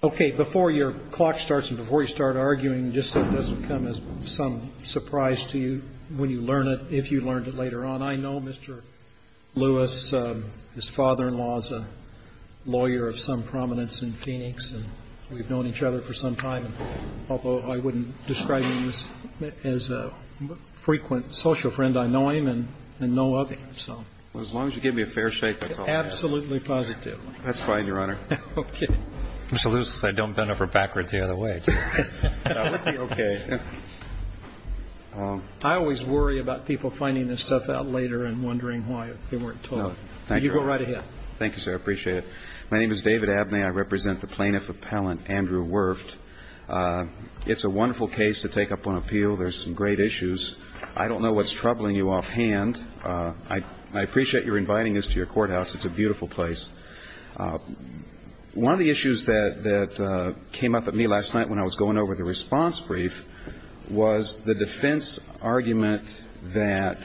Okay, before your clock starts and before you start arguing, just so it doesn't come as some surprise to you when you learn it, if you learned it later on, I know Mr. Lewis. His father-in-law is a lawyer of some prominence in Phoenix, and we've known each other for some time, although I wouldn't describe him as a frequent social friend. I know him and know others, so. Well, as long as you give me a fair shake, that's all I ask. Absolutely positively. That's fine, Your Honor. Okay. Mr. Lewis said don't bend over backwards the other way. That would be okay. I always worry about people finding this stuff out later and wondering why they weren't told. Thank you. You go right ahead. Thank you, sir. I appreciate it. My name is David Abney. I represent the plaintiff appellant, Andrew Werft. It's a wonderful case to take up on appeal. There's some great issues. I don't know what's troubling you offhand. I appreciate your inviting us to your courthouse. It's a beautiful place. One of the issues that came up at me last night when I was going over the response brief was the defense argument that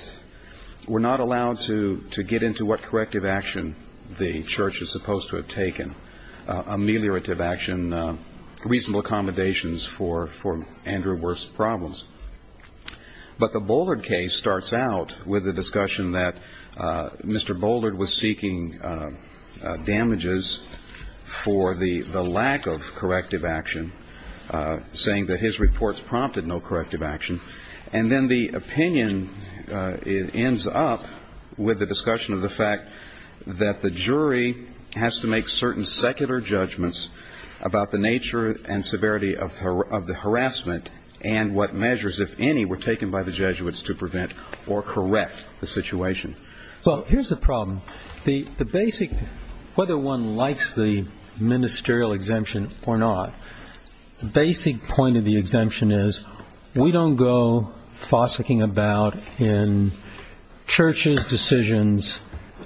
we're not allowed to get into what corrective action the church is supposed to have taken, ameliorative action, But the Bouldard case starts out with the discussion that Mr. Bouldard was seeking damages for the lack of corrective action, saying that his reports prompted no corrective action. And then the opinion ends up with the discussion of the fact that the jury has to make certain secular judgments about the nature and severity of the harassment and what measures, if any, were taken by the Jesuits to prevent or correct the situation. Well, here's the problem. The basic, whether one likes the ministerial exemption or not, the basic point of the exemption is we don't go fossicking about in churches' decisions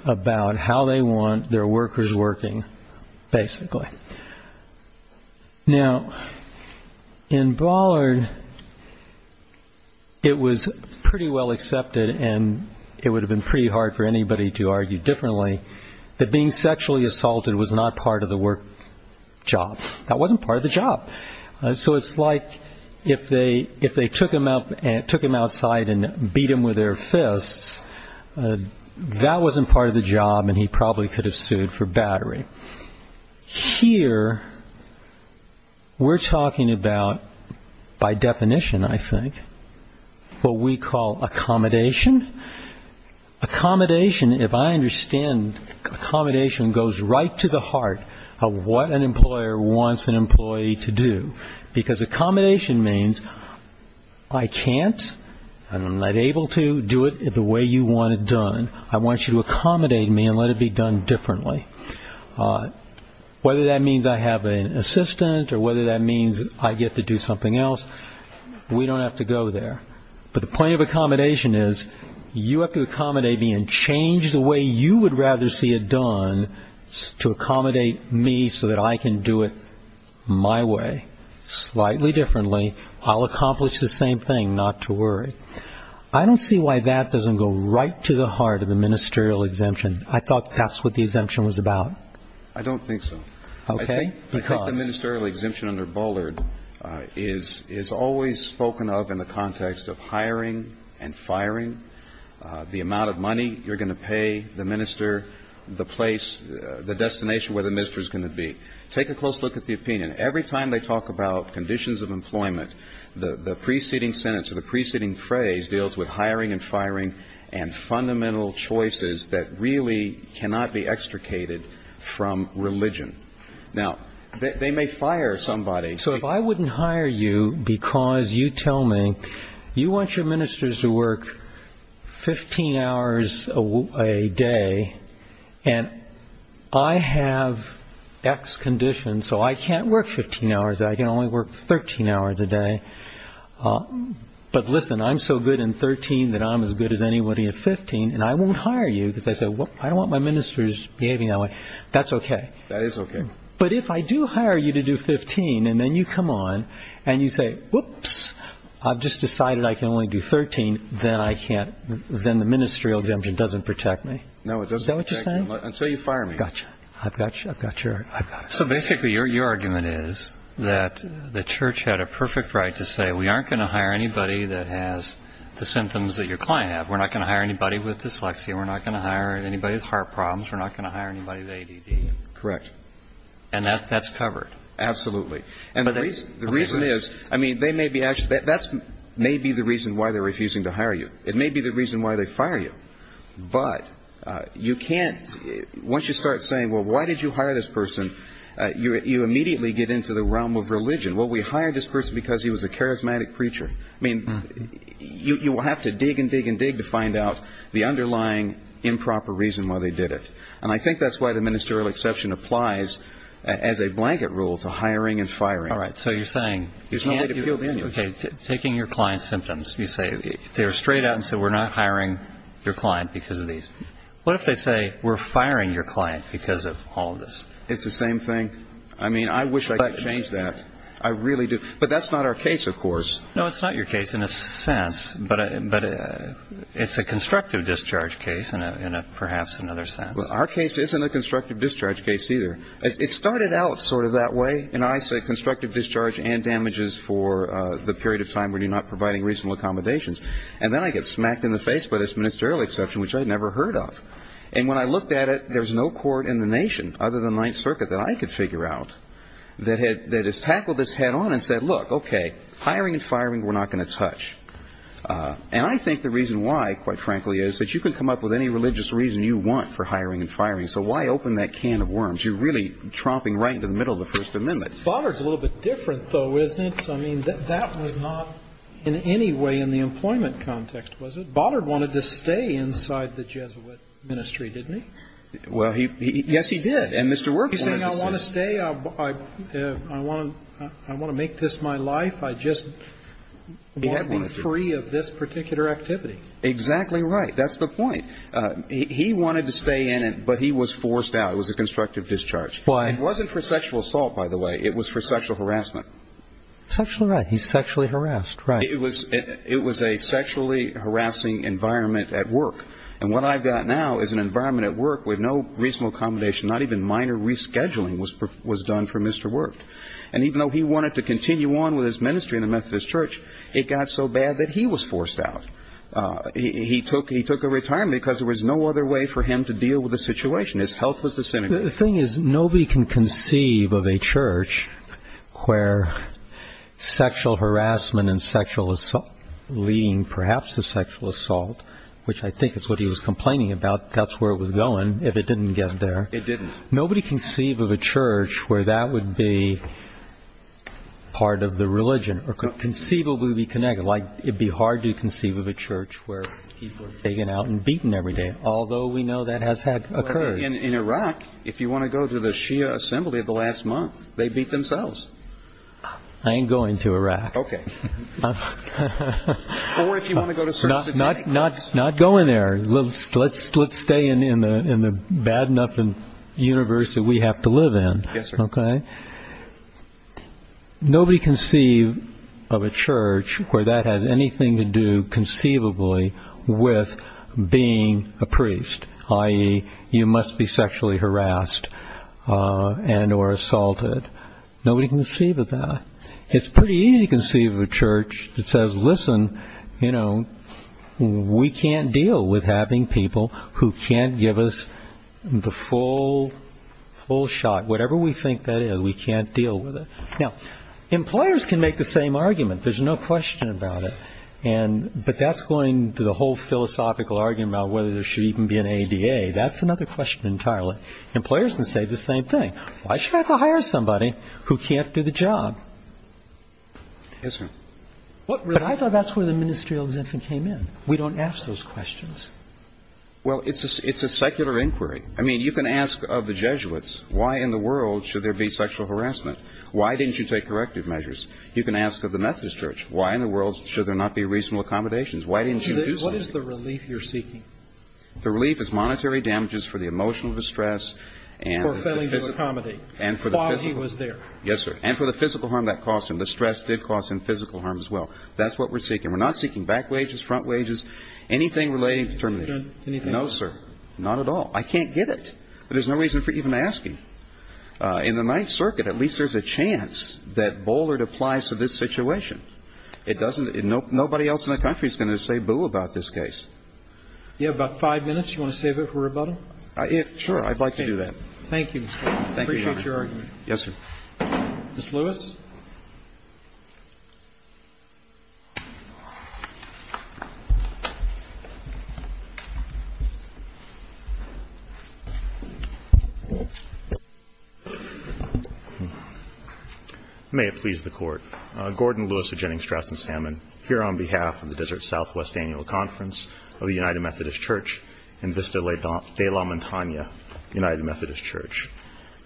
about how they want their workers working, basically. Now, in Bouldard, it was pretty well accepted, and it would have been pretty hard for anybody to argue differently, that being sexually assaulted was not part of the work job. That wasn't part of the job. So it's like if they took him outside and beat him with their fists, that wasn't part of the job, and he probably could have sued for battery. Here we're talking about, by definition, I think, what we call accommodation. Accommodation, if I understand, accommodation goes right to the heart of what an employer wants an employee to do, because accommodation means I can't, I'm not able to do it the way you want it done. I want you to accommodate me and let it be done differently. Whether that means I have an assistant or whether that means I get to do something else, we don't have to go there. But the point of accommodation is you have to accommodate me and change the way you would rather see it done to accommodate me so that I can do it my way, slightly differently. I'll accomplish the same thing, not to worry. I don't see why that doesn't go right to the heart of the ministerial exemption. I thought that's what the exemption was about. I don't think so. Okay. I think the ministerial exemption under Bullard is always spoken of in the context of hiring and firing, the amount of money you're going to pay the minister, the place, the destination where the minister is going to be. Take a close look at the opinion. Every time they talk about conditions of employment, the preceding sentence or the preceding phrase deals with hiring and firing and fundamental choices that really cannot be extricated from religion. Now, they may fire somebody. So if I wouldn't hire you because you tell me you want your ministers to work 15 hours a day and I have X conditions so I can't work 15 hours, I can only work 13 hours a day, but listen, I'm so good in 13 that I'm as good as anybody at 15 and I won't hire you because I don't want my ministers behaving that way. That's okay. That is okay. But if I do hire you to do 15 and then you come on and you say, whoops, I've just decided I can only do 13, then the ministerial exemption doesn't protect me. Is that what you're saying? Until you fire me. Gotcha. I've got your argument. So basically your argument is that the church had a perfect right to say, we aren't going to hire anybody that has the symptoms that your client has. We're not going to hire anybody with dyslexia. We're not going to hire anybody with heart problems. We're not going to hire anybody with ADD. Correct. And that's covered. Absolutely. And the reason is, I mean, that may be the reason why they're refusing to hire you. It may be the reason why they fire you. But you can't, once you start saying, well, why did you hire this person, you immediately get into the realm of religion. Well, we hired this person because he was a charismatic preacher. I mean, you have to dig and dig and dig to find out the underlying improper reason why they did it. And I think that's why the ministerial exception applies as a blanket rule to hiring and firing. All right. So you're saying, okay, taking your client's symptoms, you say they're straight out and say we're not hiring your client because of these. What if they say we're firing your client because of all of this? It's the same thing. I mean, I wish I could change that. I really do. But that's not our case, of course. No, it's not your case in a sense, but it's a constructive discharge case in perhaps another sense. Our case isn't a constructive discharge case either. It started out sort of that way, and I say constructive discharge and damages for the period of time when you're not providing reasonable accommodations. And then I get smacked in the face by this ministerial exception, which I had never heard of. And when I looked at it, there's no court in the nation other than Ninth Circuit that I could figure out that has tackled this head on and said, look, okay, hiring and firing we're not going to touch. And I think the reason why, quite frankly, is that you can come up with any religious reason you want for hiring and firing. So why open that can of worms? Because you're really tromping right into the middle of the First Amendment. Bothered's a little bit different, though, isn't it? I mean, that was not in any way in the employment context, was it? Bothered wanted to stay inside the Jesuit ministry, didn't he? Well, yes, he did. And Mr. Work wanted to stay. He's saying I want to stay. I want to make this my life. I just want to be free of this particular activity. Exactly right. That's the point. He wanted to stay in it, but he was forced out. It was a constructive discharge. It wasn't for sexual assault, by the way. It was for sexual harassment. He's sexually harassed. It was a sexually harassing environment at work. And what I've got now is an environment at work with no reasonable accommodation, not even minor rescheduling was done for Mr. Work. And even though he wanted to continue on with his ministry in the Methodist Church, it got so bad that he was forced out. He took a retirement because there was no other way for him to deal with the situation. His health was disintegrating. The thing is nobody can conceive of a church where sexual harassment and sexual assault, leading perhaps to sexual assault, which I think is what he was complaining about, that's where it was going, if it didn't get there. It didn't. Nobody can conceive of a church where that would be part of the religion or could conceivably be connected. Like it would be hard to conceive of a church where people are taken out and beaten every day, although we know that has occurred. In Iraq, if you want to go to the Shia assembly of the last month, they beat themselves. I ain't going to Iraq. Okay. Or if you want to go to certain satanic mosques. Not going there. Let's stay in the bad enough universe that we have to live in. Yes, sir. Okay. Nobody can conceive of a church where that has anything to do conceivably with being a priest, i.e., you must be sexually harassed and or assaulted. Nobody can conceive of that. It's pretty easy to conceive of a church that says, listen, we can't deal with having people who can't give us the full shot. Whatever we think that is, we can't deal with it. Now, employers can make the same argument. There's no question about it. But that's going to the whole philosophical argument about whether there should even be an ADA. That's another question entirely. Employers can say the same thing. Why should I have to hire somebody who can't do the job? Yes, sir. But I thought that's where the ministerial exemption came in. We don't ask those questions. Well, it's a secular inquiry. I mean, you can ask of the Jesuits, why in the world should there be sexual harassment? Why didn't you take corrective measures? You can ask of the Methodist Church, why in the world should there not be reasonable accommodations? Why didn't you do something? What is the relief you're seeking? The relief is monetary damages for the emotional distress. For failing to accommodate while he was there. Yes, sir. And for the physical harm that caused him. The stress did cause him physical harm as well. That's what we're seeking. We're not seeking back wages, front wages, anything relating to termination. No, sir. Not at all. I can't get it. But there's no reason for even asking. In the Ninth Circuit, at least there's a chance that Bollard applies to this situation. It doesn't – nobody else in the country is going to say boo about this case. You have about five minutes. Do you want to save it for rebuttal? Sure. I'd like to do that. Thank you, Mr. Bollard. I appreciate your argument. Yes, sir. Ms. Lewis. May it please the Court. Gordon Lewis of Jennings Strassen Salmon, here on behalf of the Desert Southwest Annual Conference of the United Methodist Church and Vista de la Montaña United Methodist Church.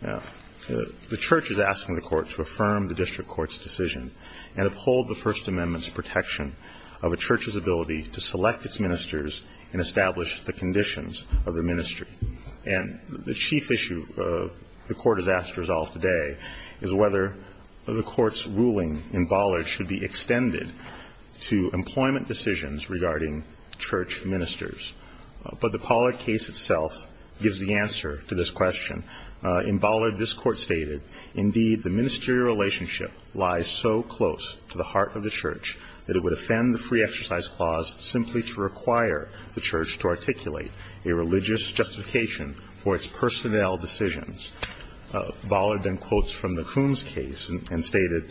Now, the Church is asking the Court to affirm the judgment of the United Methodist Church and uphold the First Amendment's protection of a church's ability to select its ministers and establish the conditions of the ministry. And the chief issue the Court has asked to resolve today is whether the Court's ruling in Bollard should be extended to employment decisions regarding church ministers. But the Bollard case itself gives the answer to this question. In Bollard, this Court stated, Indeed, the ministerial relationship lies so close to the heart of the church that it would offend the free exercise clause simply to require the church to articulate a religious justification for its personnel decisions. Bollard then quotes from the Coons case and stated,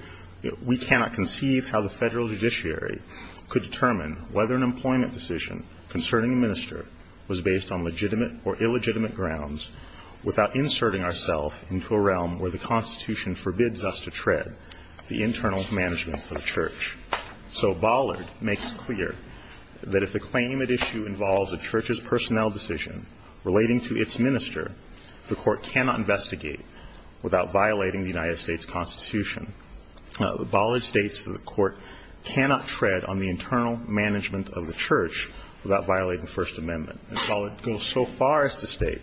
We cannot conceive how the federal judiciary could determine whether an employment decision concerning a minister was based on legitimate or illegitimate grounds without inserting ourselves into a realm where the Constitution forbids us to tread the internal management of the church. So Bollard makes clear that if the claim at issue involves a church's personnel decision relating to its minister, the Court cannot investigate without violating the United States Constitution. Bollard states that the Court cannot tread on the internal management of the church without violating the First Amendment. And Bollard goes so far as to state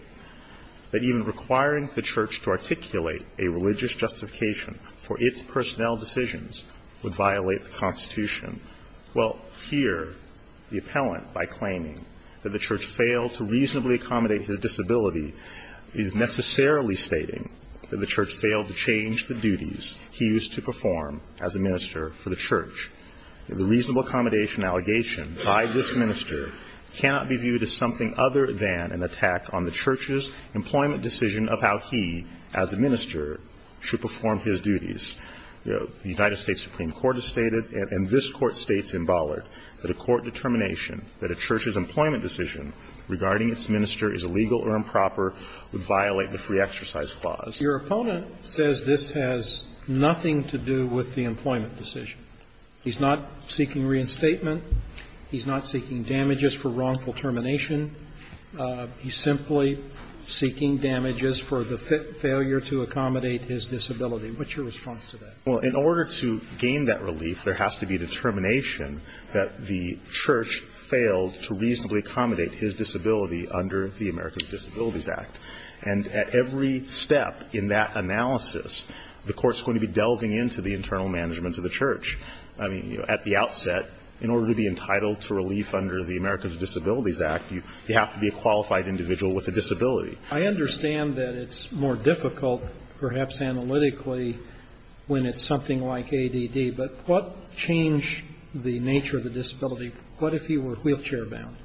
that even requiring the church to articulate a religious justification for its personnel decisions would violate the Constitution. Well, here the appellant, by claiming that the church failed to reasonably accommodate his disability, is necessarily stating that the church failed to change the duties he used to perform as a minister for the church. The reasonable accommodation allegation by this minister cannot be viewed as something other than an attack on the church's employment decision of how he, as a minister, should perform his duties. The United States Supreme Court has stated, and this Court states in Bollard, that a court determination that a church's employment decision regarding its minister is illegal or improper would violate the free exercise clause. Your opponent says this has nothing to do with the employment decision. He's not seeking reinstatement. He's not seeking damages for wrongful termination. He's simply seeking damages for the failure to accommodate his disability. What's your response to that? Well, in order to gain that relief, there has to be determination that the church failed to reasonably accommodate his disability under the America's Disabilities Act, and at every step in that analysis, the court's going to be delving into the internal management of the church. I mean, at the outset, in order to be entitled to relief under the America's Disabilities Act, you have to be a qualified individual with a disability. I understand that it's more difficult, perhaps analytically, when it's something like ADD, but what changed the nature of the disability? What if he were wheelchair-bound?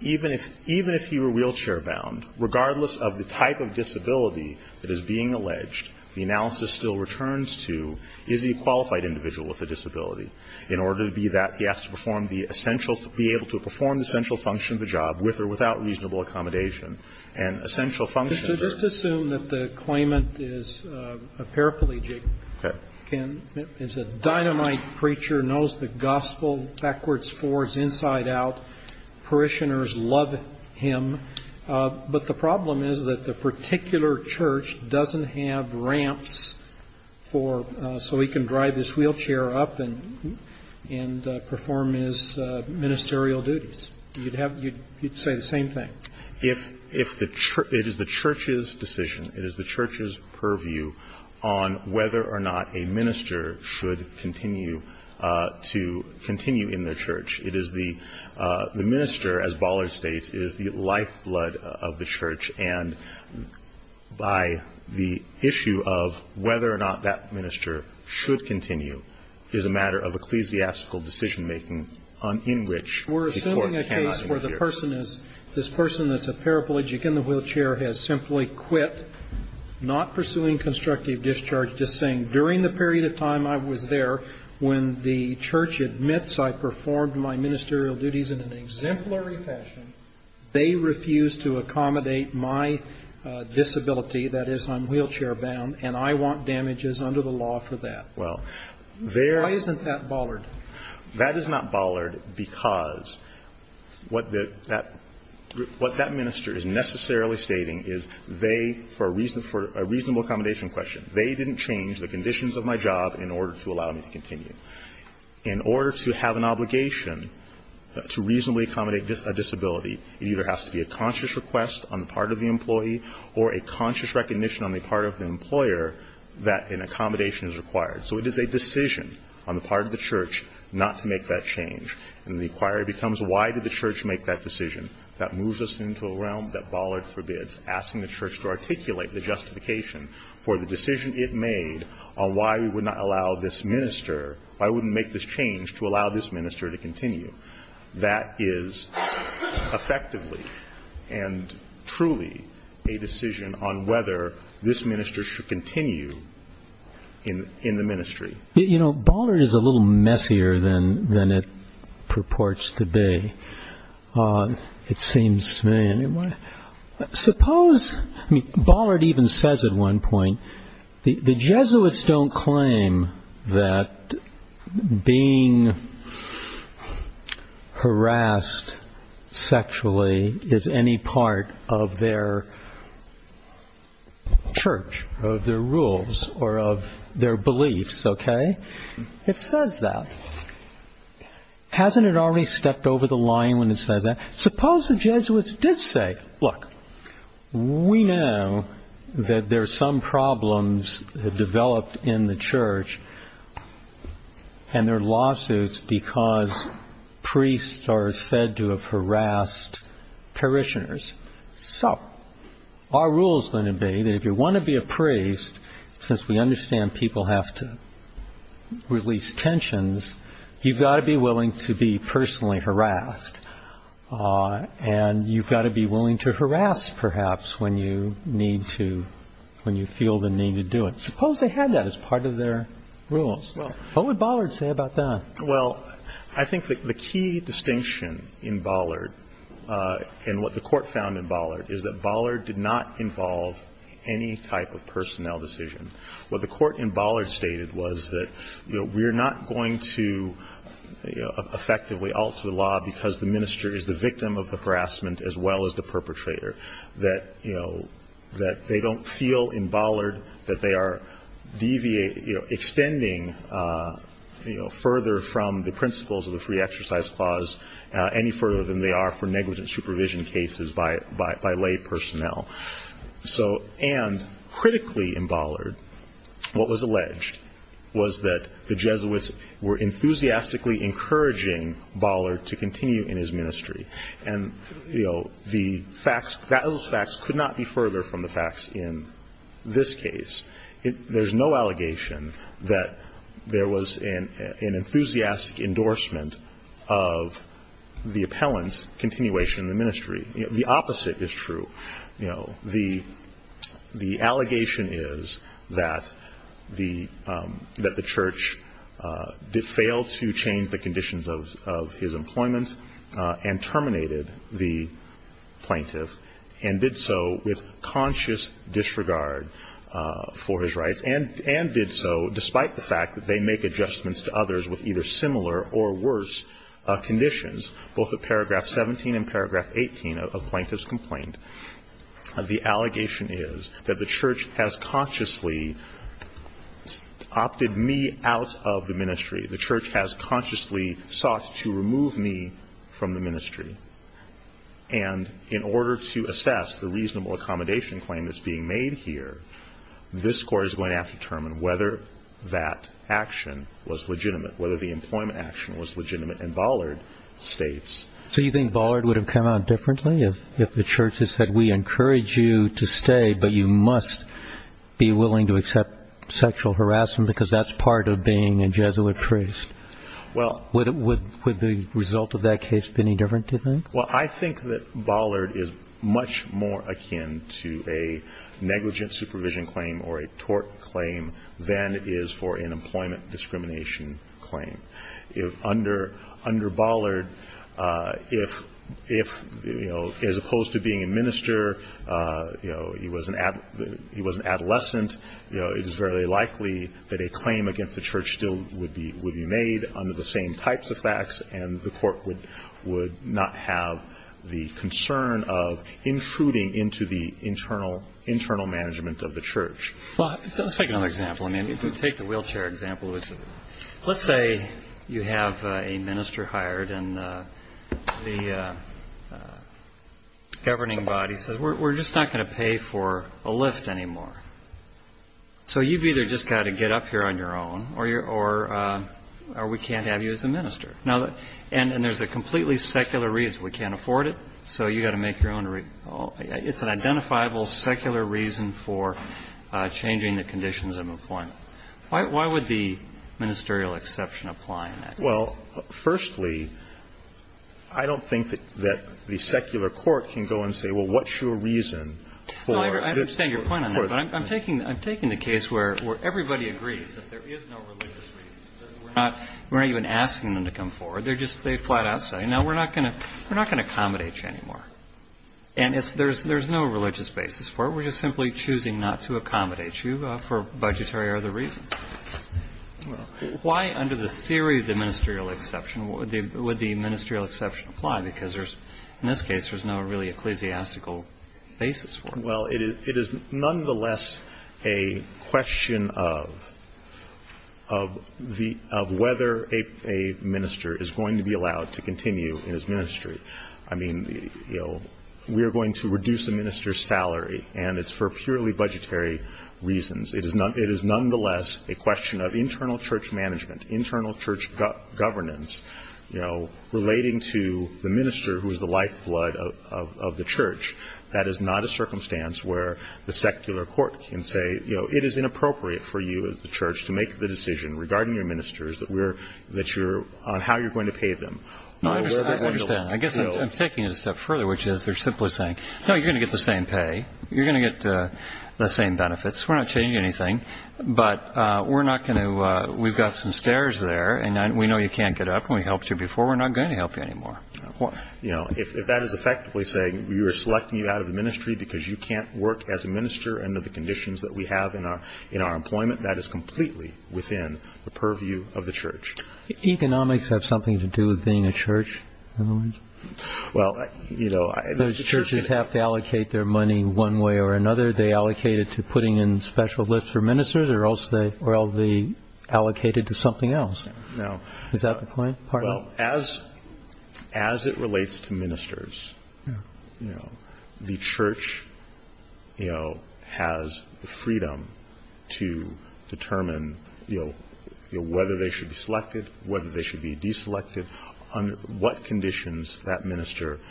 Even if he were wheelchair-bound, regardless of the type of disability that is being alleged, the analysis still returns to, is he a qualified individual with a disability? In order to be that, he has to perform the essential to be able to perform the essential function of the job with or without reasonable accommodation, and essential function of the job. Just assume that the claimant is a paraplegic. Okay. It's a dynamite preacher, knows the gospel backwards, forwards, inside, out. Parishioners love him. But the problem is that the particular church doesn't have ramps for so he can drive his wheelchair up and perform his ministerial duties. You'd have to say the same thing. If the church – it is the church's decision, it is the church's purview on whether or not a minister should continue to continue in their church. It is the – the minister, as Ballard states, is the lifeblood of the church. And by the issue of whether or not that minister should continue is a matter of ecclesiastical decision-making in which the court cannot interfere. We're assuming a case where the person is – this person that's a paraplegic in the wheelchair has simply quit, not pursuing constructive discharge, just saying during the period of time I was there, when the church admits I performed my ministerial duties in an exemplary fashion, they refuse to accommodate my disability, that is, I'm wheelchair-bound, and I want damages under the law for that. Why isn't that Ballard? Because what the – that – what that minister is necessarily stating is they, for a reason – for a reasonable accommodation question, they didn't change the conditions of my job in order to allow me to continue. In order to have an obligation to reasonably accommodate a disability, it either has to be a conscious request on the part of the employee or a conscious recognition on the part of the employer that an accommodation is required. So it is a decision on the part of the church not to make that change. And the inquiry becomes, why did the church make that decision? That moves us into a realm that Ballard forbids, asking the church to articulate the justification for the decision it made on why we would not allow this minister – why we wouldn't make this change to allow this minister to continue. That is effectively and truly a decision on whether this minister should continue in the ministry. You know, Ballard is a little messier than it purports to be, it seems to me. Suppose – Ballard even says at one point, the Jesuits don't claim that being harassed sexually is any part of their church, of their rules, or of their beliefs, okay? It says that. Hasn't it already stepped over the line when it says that? Suppose the Jesuits did say, look, we know that there are some problems developed in the church and there are lawsuits because priests are said to have harassed parishioners. So, our rules are going to be that if you want to be a priest, since we understand people have to release tensions, you've got to be willing to be personally harassed. And you've got to be willing to harass, perhaps, when you feel the need to do it. Suppose they had that as part of their rules. What would Ballard say about that? Well, I think the key distinction in Ballard, and what the court found in Ballard, is that Ballard did not involve any type of personnel decision. What the court in Ballard stated was that we're not going to effectively alter the law because the minister is the victim of the harassment as well as the perpetrator. That they don't feel in Ballard that they are extending further from the principles of the Free Exercise Clause any further than they are for negligent supervision cases by lay personnel. And critically in Ballard, what was alleged was that the Jesuits were enthusiastically encouraging Ballard to continue in his ministry. And those facts could not be further from the facts in this case. There's no allegation that there was an enthusiastic endorsement of the appellant's continuation in the ministry. The opposite is true. You know, the allegation is that the church failed to change the conditions of his employment and terminated the plaintiff and did so with conscious disregard for his rights and did so despite the fact that they make adjustments to others with either similar or worse conditions, both of paragraph 17 and paragraph 18 of Plaintiff's Complaint. The allegation is that the church has consciously opted me out of the ministry. The church has consciously sought to remove me from the ministry. And in order to assess the reasonable accommodation claim that's being made here, this Court is going to have to determine whether that action was legitimate, whether the employment action was legitimate. And Ballard states- So you think Ballard would have come out differently if the church had said, We encourage you to stay, but you must be willing to accept sexual harassment because that's part of being a Jesuit priest? Would the result of that case have been any different, do you think? Well, I think that Ballard is much more akin to a negligent supervision claim or a tort claim than it is for an employment discrimination claim. Under Ballard, if, you know, as opposed to being a minister, you know, he was an adolescent, you know, it is very likely that a claim against the church still would be made under the same types of facts, and the Court would not have the concern of intruding into the internal management of the church. Well, let's take another example. I mean, take the wheelchair example. Let's say you have a minister hired and the governing body says, We're just not going to pay for a lift anymore. So you've either just got to get up here on your own or we can't have you as a minister. And there's a completely secular reason. We can't afford it, so you've got to make your own. It's an identifiable secular reason for changing the conditions of employment. Why would the ministerial exception apply in that case? Well, firstly, I don't think that the secular court can go and say, well, what's your reason for this? No, I understand your point on that, but I'm taking the case where everybody agrees that there is no religious reason. We're not even asking them to come forward. They're just flat out saying, no, we're not going to accommodate you anymore. And there's no religious basis for it. We're just simply choosing not to accommodate you for budgetary or other reasons. Why, under the theory of the ministerial exception, would the ministerial exception apply? Because in this case, there's no really ecclesiastical basis for it. Well, it is nonetheless a question of whether a minister is going to be allowed to continue in his ministry. I mean, we are going to reduce a minister's salary, and it's for purely budgetary reasons. It is nonetheless a question of internal church management, internal church governance relating to the minister who is the lifeblood of the church. That is not a circumstance where the secular court can say, you know, it is inappropriate for you as the church to make the decision regarding your ministers that you're on how you're going to pay them. No, I understand. I guess I'm taking it a step further, which is they're simply saying, no, you're going to get the same pay. You're going to get the same benefits. We're not changing anything, but we're not going to – we've got some stairs there, and we know you can't get up, and we helped you before. We're not going to help you anymore. You know, if that is effectively saying we are selecting you out of the ministry because you can't work as a minister under the conditions that we have in our employment, that is completely within the purview of the church. Economics has something to do with being a church, in a way. Well, you know – Those churches have to allocate their money one way or another. They allocate it to putting in special lists for ministers, or else they – or they allocate it to something else. Is that the point? Well, as it relates to ministers, you know, the church, you know, has the freedom to determine, you know, whether they should be selected, whether they should be deselected, under what conditions that minister –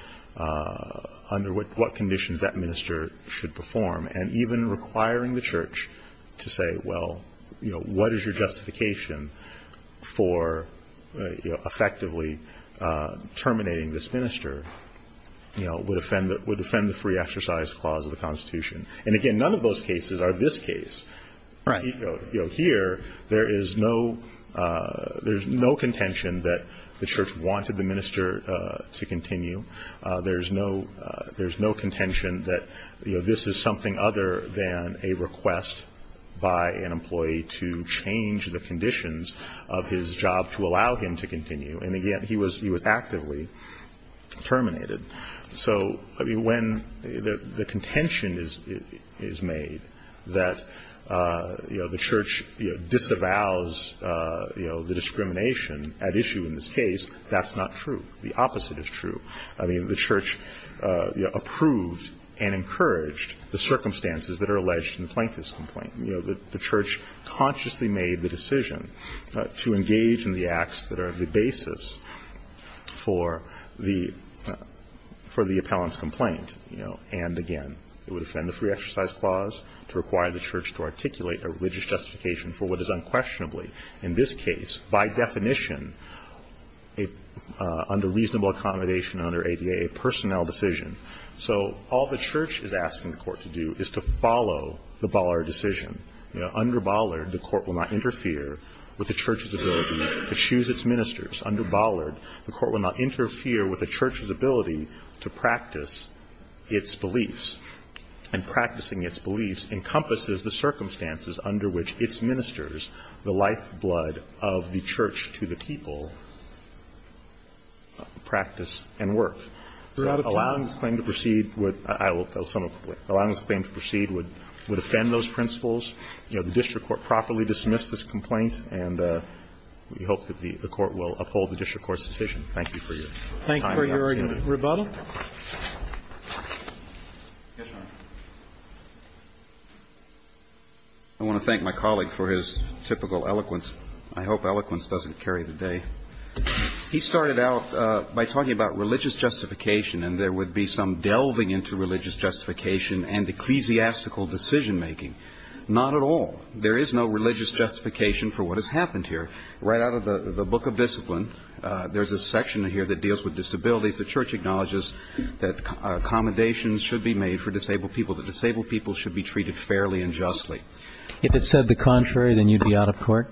under what conditions that minister should perform, and even requiring the church to say, well, you know, what is your justification for effectively terminating this minister, you know, would offend the free exercise clause of the Constitution. And, again, none of those cases are this case. Right. You know, here, there is no – there's no contention that the church wanted the minister to continue. There's no – there's no contention that, you know, this is something other than a request by an employee to change the conditions of his job to allow him to continue. And, again, he was – he was actively terminated. So, I mean, when the contention is made that, you know, the church disavows, you know, the discrimination at issue in this case, that's not true. The opposite is true. I mean, the church approved and encouraged the circumstances that are alleged in the plaintiff's complaint. You know, the church consciously made the decision to engage in the acts that are the basis for the – for the appellant's complaint. You know, and, again, it would offend the free exercise clause to require the church to articulate a religious justification for what is unquestionably, in this case, by definition, under reasonable accommodation under ADA, a personnel decision. So all the church is asking the court to do is to follow the Bollard decision. Under Bollard, the court will not interfere with the church's ability to choose its ministers. Under Bollard, the court will not interfere with the church's ability to practice its beliefs. And practicing its beliefs encompasses the circumstances under which its ministers, the lifeblood of the church to the people, practice and work. So allowing this claim to proceed would – I will sum it up quickly. Allowing this claim to proceed would offend those principles. You know, the district court properly dismissed this complaint, and we hope that the court will uphold the district court's decision. Thank you for your time and opportunity. Thank you for your argument. Rebuttal? Yes, Your Honor. I want to thank my colleague for his typical eloquence. I hope eloquence doesn't carry the day. He started out by talking about religious justification, and there would be some delving into religious justification and ecclesiastical decision-making. Not at all. There is no religious justification for what has happened here. Right out of the Book of Discipline, there's a section here that deals with acknowledges that accommodations should be made for disabled people, that disabled people should be treated fairly and justly. If it said the contrary, then you'd be out of court?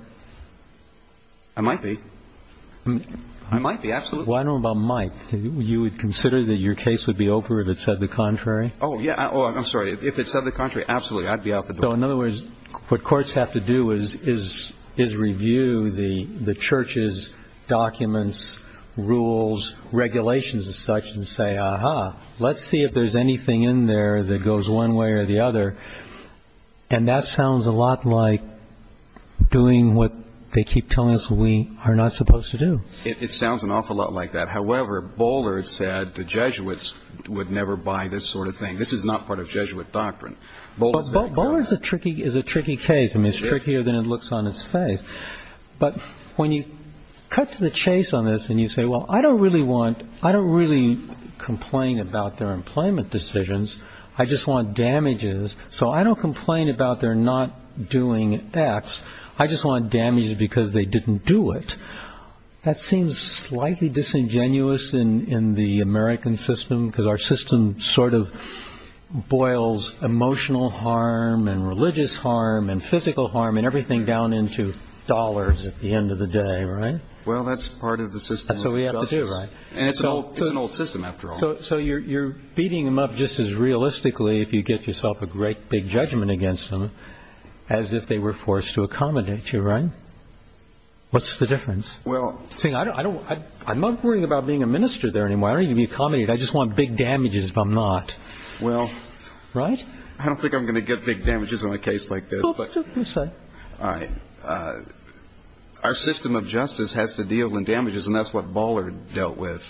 I might be. I might be, absolutely. Well, I don't know about might. You would consider that your case would be over if it said the contrary? Oh, yeah. Oh, I'm sorry. If it said the contrary, absolutely, I'd be out the door. So in other words, what courts have to do is review the church's documents, rules, regulations and such and say, ah-ha, let's see if there's anything in there that goes one way or the other. And that sounds a lot like doing what they keep telling us we are not supposed to do. It sounds an awful lot like that. However, Bollard said the Jesuits would never buy this sort of thing. This is not part of Jesuit doctrine. Bollard is a tricky case. I mean, it's trickier than it looks on its face. But when you cut to the chase on this and you say, well, I don't really complain about their employment decisions. I just want damages. So I don't complain about their not doing X. I just want damages because they didn't do it. That seems slightly disingenuous in the American system because our system sort of boils emotional harm and religious harm and physical harm and everything down into dollars at the end of the day, right? Well, that's part of the system. That's what we have to do, right? And it's an old system after all. So you're beating them up just as realistically if you get yourself a great big judgment against them as if they were forced to accommodate you, right? What's the difference? I'm not worrying about being a minister there anymore. I don't need to be accommodated. I just want big damages if I'm not. Well, I don't think I'm going to get big damages on a case like this. All right. Our system of justice has to deal in damages, and that's what Ballard dealt with.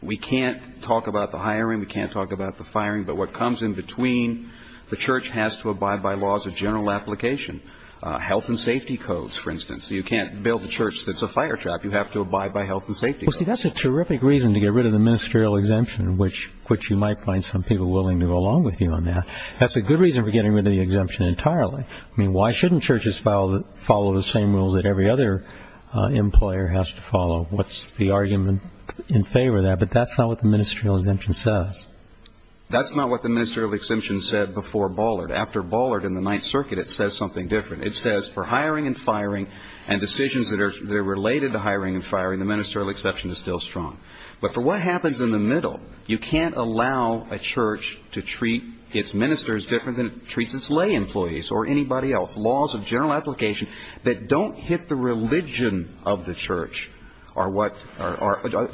We can't talk about the hiring. We can't talk about the firing. But what comes in between, the church has to abide by laws of general application, health and safety codes, for instance. You can't build a church that's a fire trap. You have to abide by health and safety codes. Well, see, that's a terrific reason to get rid of the ministerial exemption, which you might find some people willing to go along with you on that. That's a good reason for getting rid of the exemption entirely. I mean, why shouldn't churches follow the same rules that every other employer has to follow? What's the argument in favor of that? But that's not what the ministerial exemption says. That's not what the ministerial exemption said before Ballard. After Ballard and the Ninth Circuit, it says something different. It says for hiring and firing and decisions that are related to hiring and firing, the ministerial exception is still strong. But for what happens in the middle, you can't allow a church to treat its ministers different than it treats its lay employees or anybody else. Laws of general application that don't hit the religion of the church are what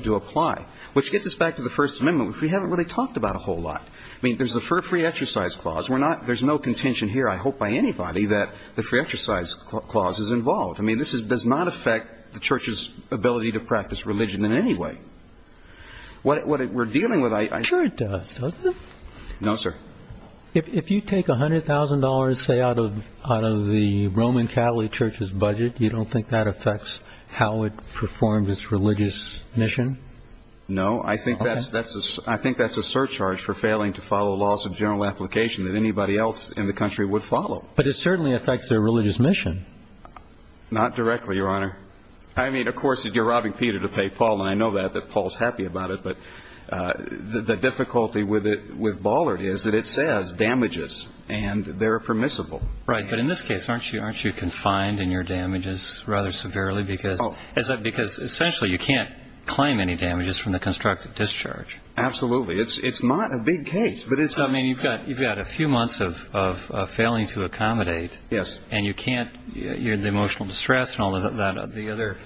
do apply, which gets us back to the First Amendment, which we haven't really talked about a whole lot. I mean, there's the free exercise clause. We're not ñ there's no contention here, I hope, by anybody that the free exercise clause is involved. I mean, this does not affect the church's ability to practice religion in any way. What we're dealing with ñ I'm sure it does, doesn't it? No, sir. If you take $100,000, say, out of the Roman Catholic Church's budget, you don't think that affects how it performs its religious mission? No. I think that's a surcharge for failing to follow laws of general application that anybody else in the country would follow. But it certainly affects their religious mission. Not directly, Your Honor. I mean, of course, you're robbing Peter to pay Paul, and I know that, that Paul's happy about it. But the difficulty with Ballard is that it says damages, and they're permissible. Right. But in this case, aren't you confined in your damages rather severely? Oh. Because essentially you can't claim any damages from the constructive discharge. Absolutely. It's not a big case, but it's ñ I mean, you've got a few months of failing to accommodate. Yes. And you can't ñ you're in emotional distress and all of that. The other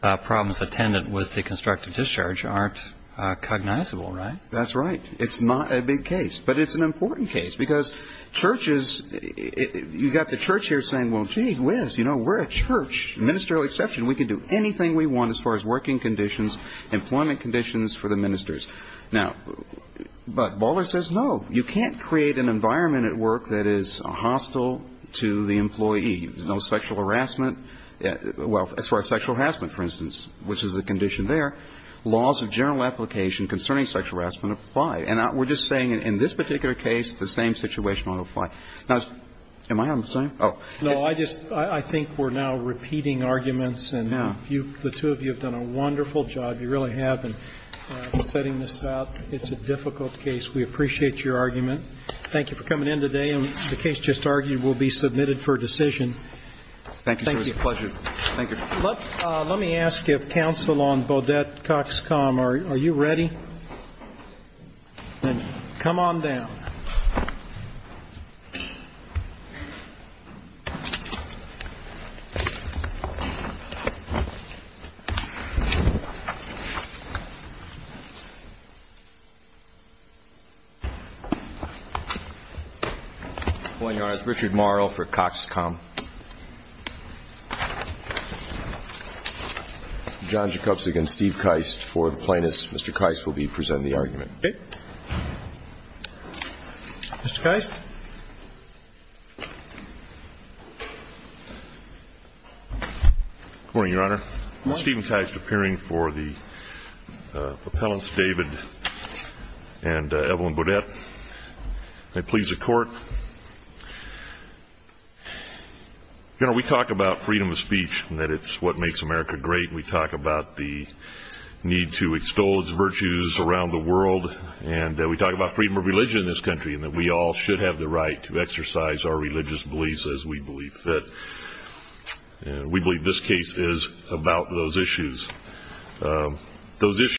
problems attendant with the constructive discharge aren't cognizable, right? That's right. It's not a big case. But it's an important case because churches ñ you've got the church here saying, well, gee whiz, you know, we're a church, ministerial exception. We can do anything we want as far as working conditions, employment conditions for the ministers. Now, but Ballard says, no, you can't create an environment at work that is hostile to the employee. There's no sexual harassment. Well, as far as sexual harassment, for instance, which is a condition there, laws of general application concerning sexual harassment apply. And we're just saying in this particular case, the same situation ought to apply. Now, am I out of time? Oh. No, I just ñ I think we're now repeating arguments, and you ñ the two of you have done a wonderful job. You really have. And I'm setting this up. It's a difficult case. We appreciate your argument. Thank you for coming in today. And the case just argued will be submitted for decision. Thank you, sir. It was a pleasure. Thank you. Let me ask if counsel on Bodette Cox Com, are you ready? Then come on down. I'm going to ask Richard Morrow for Cox Com. John Jakubczyk and Steve Keist for the plaintiffs. Mr. Keist will be presenting the argument. Okay. Mr. Keist. Good morning, Your Honor. Good morning. Steven Keist appearing for the appellants, David and Evelyn Bodette. May it please the Court. Your Honor, we talk about freedom of speech and that it's what makes America great. We talk about the need to extol its virtues around the world. And we talk about freedom of religion in this country and that we all should have the right to exercise our religious beliefs as we believe fit. And we believe this case is about those issues. Those issues.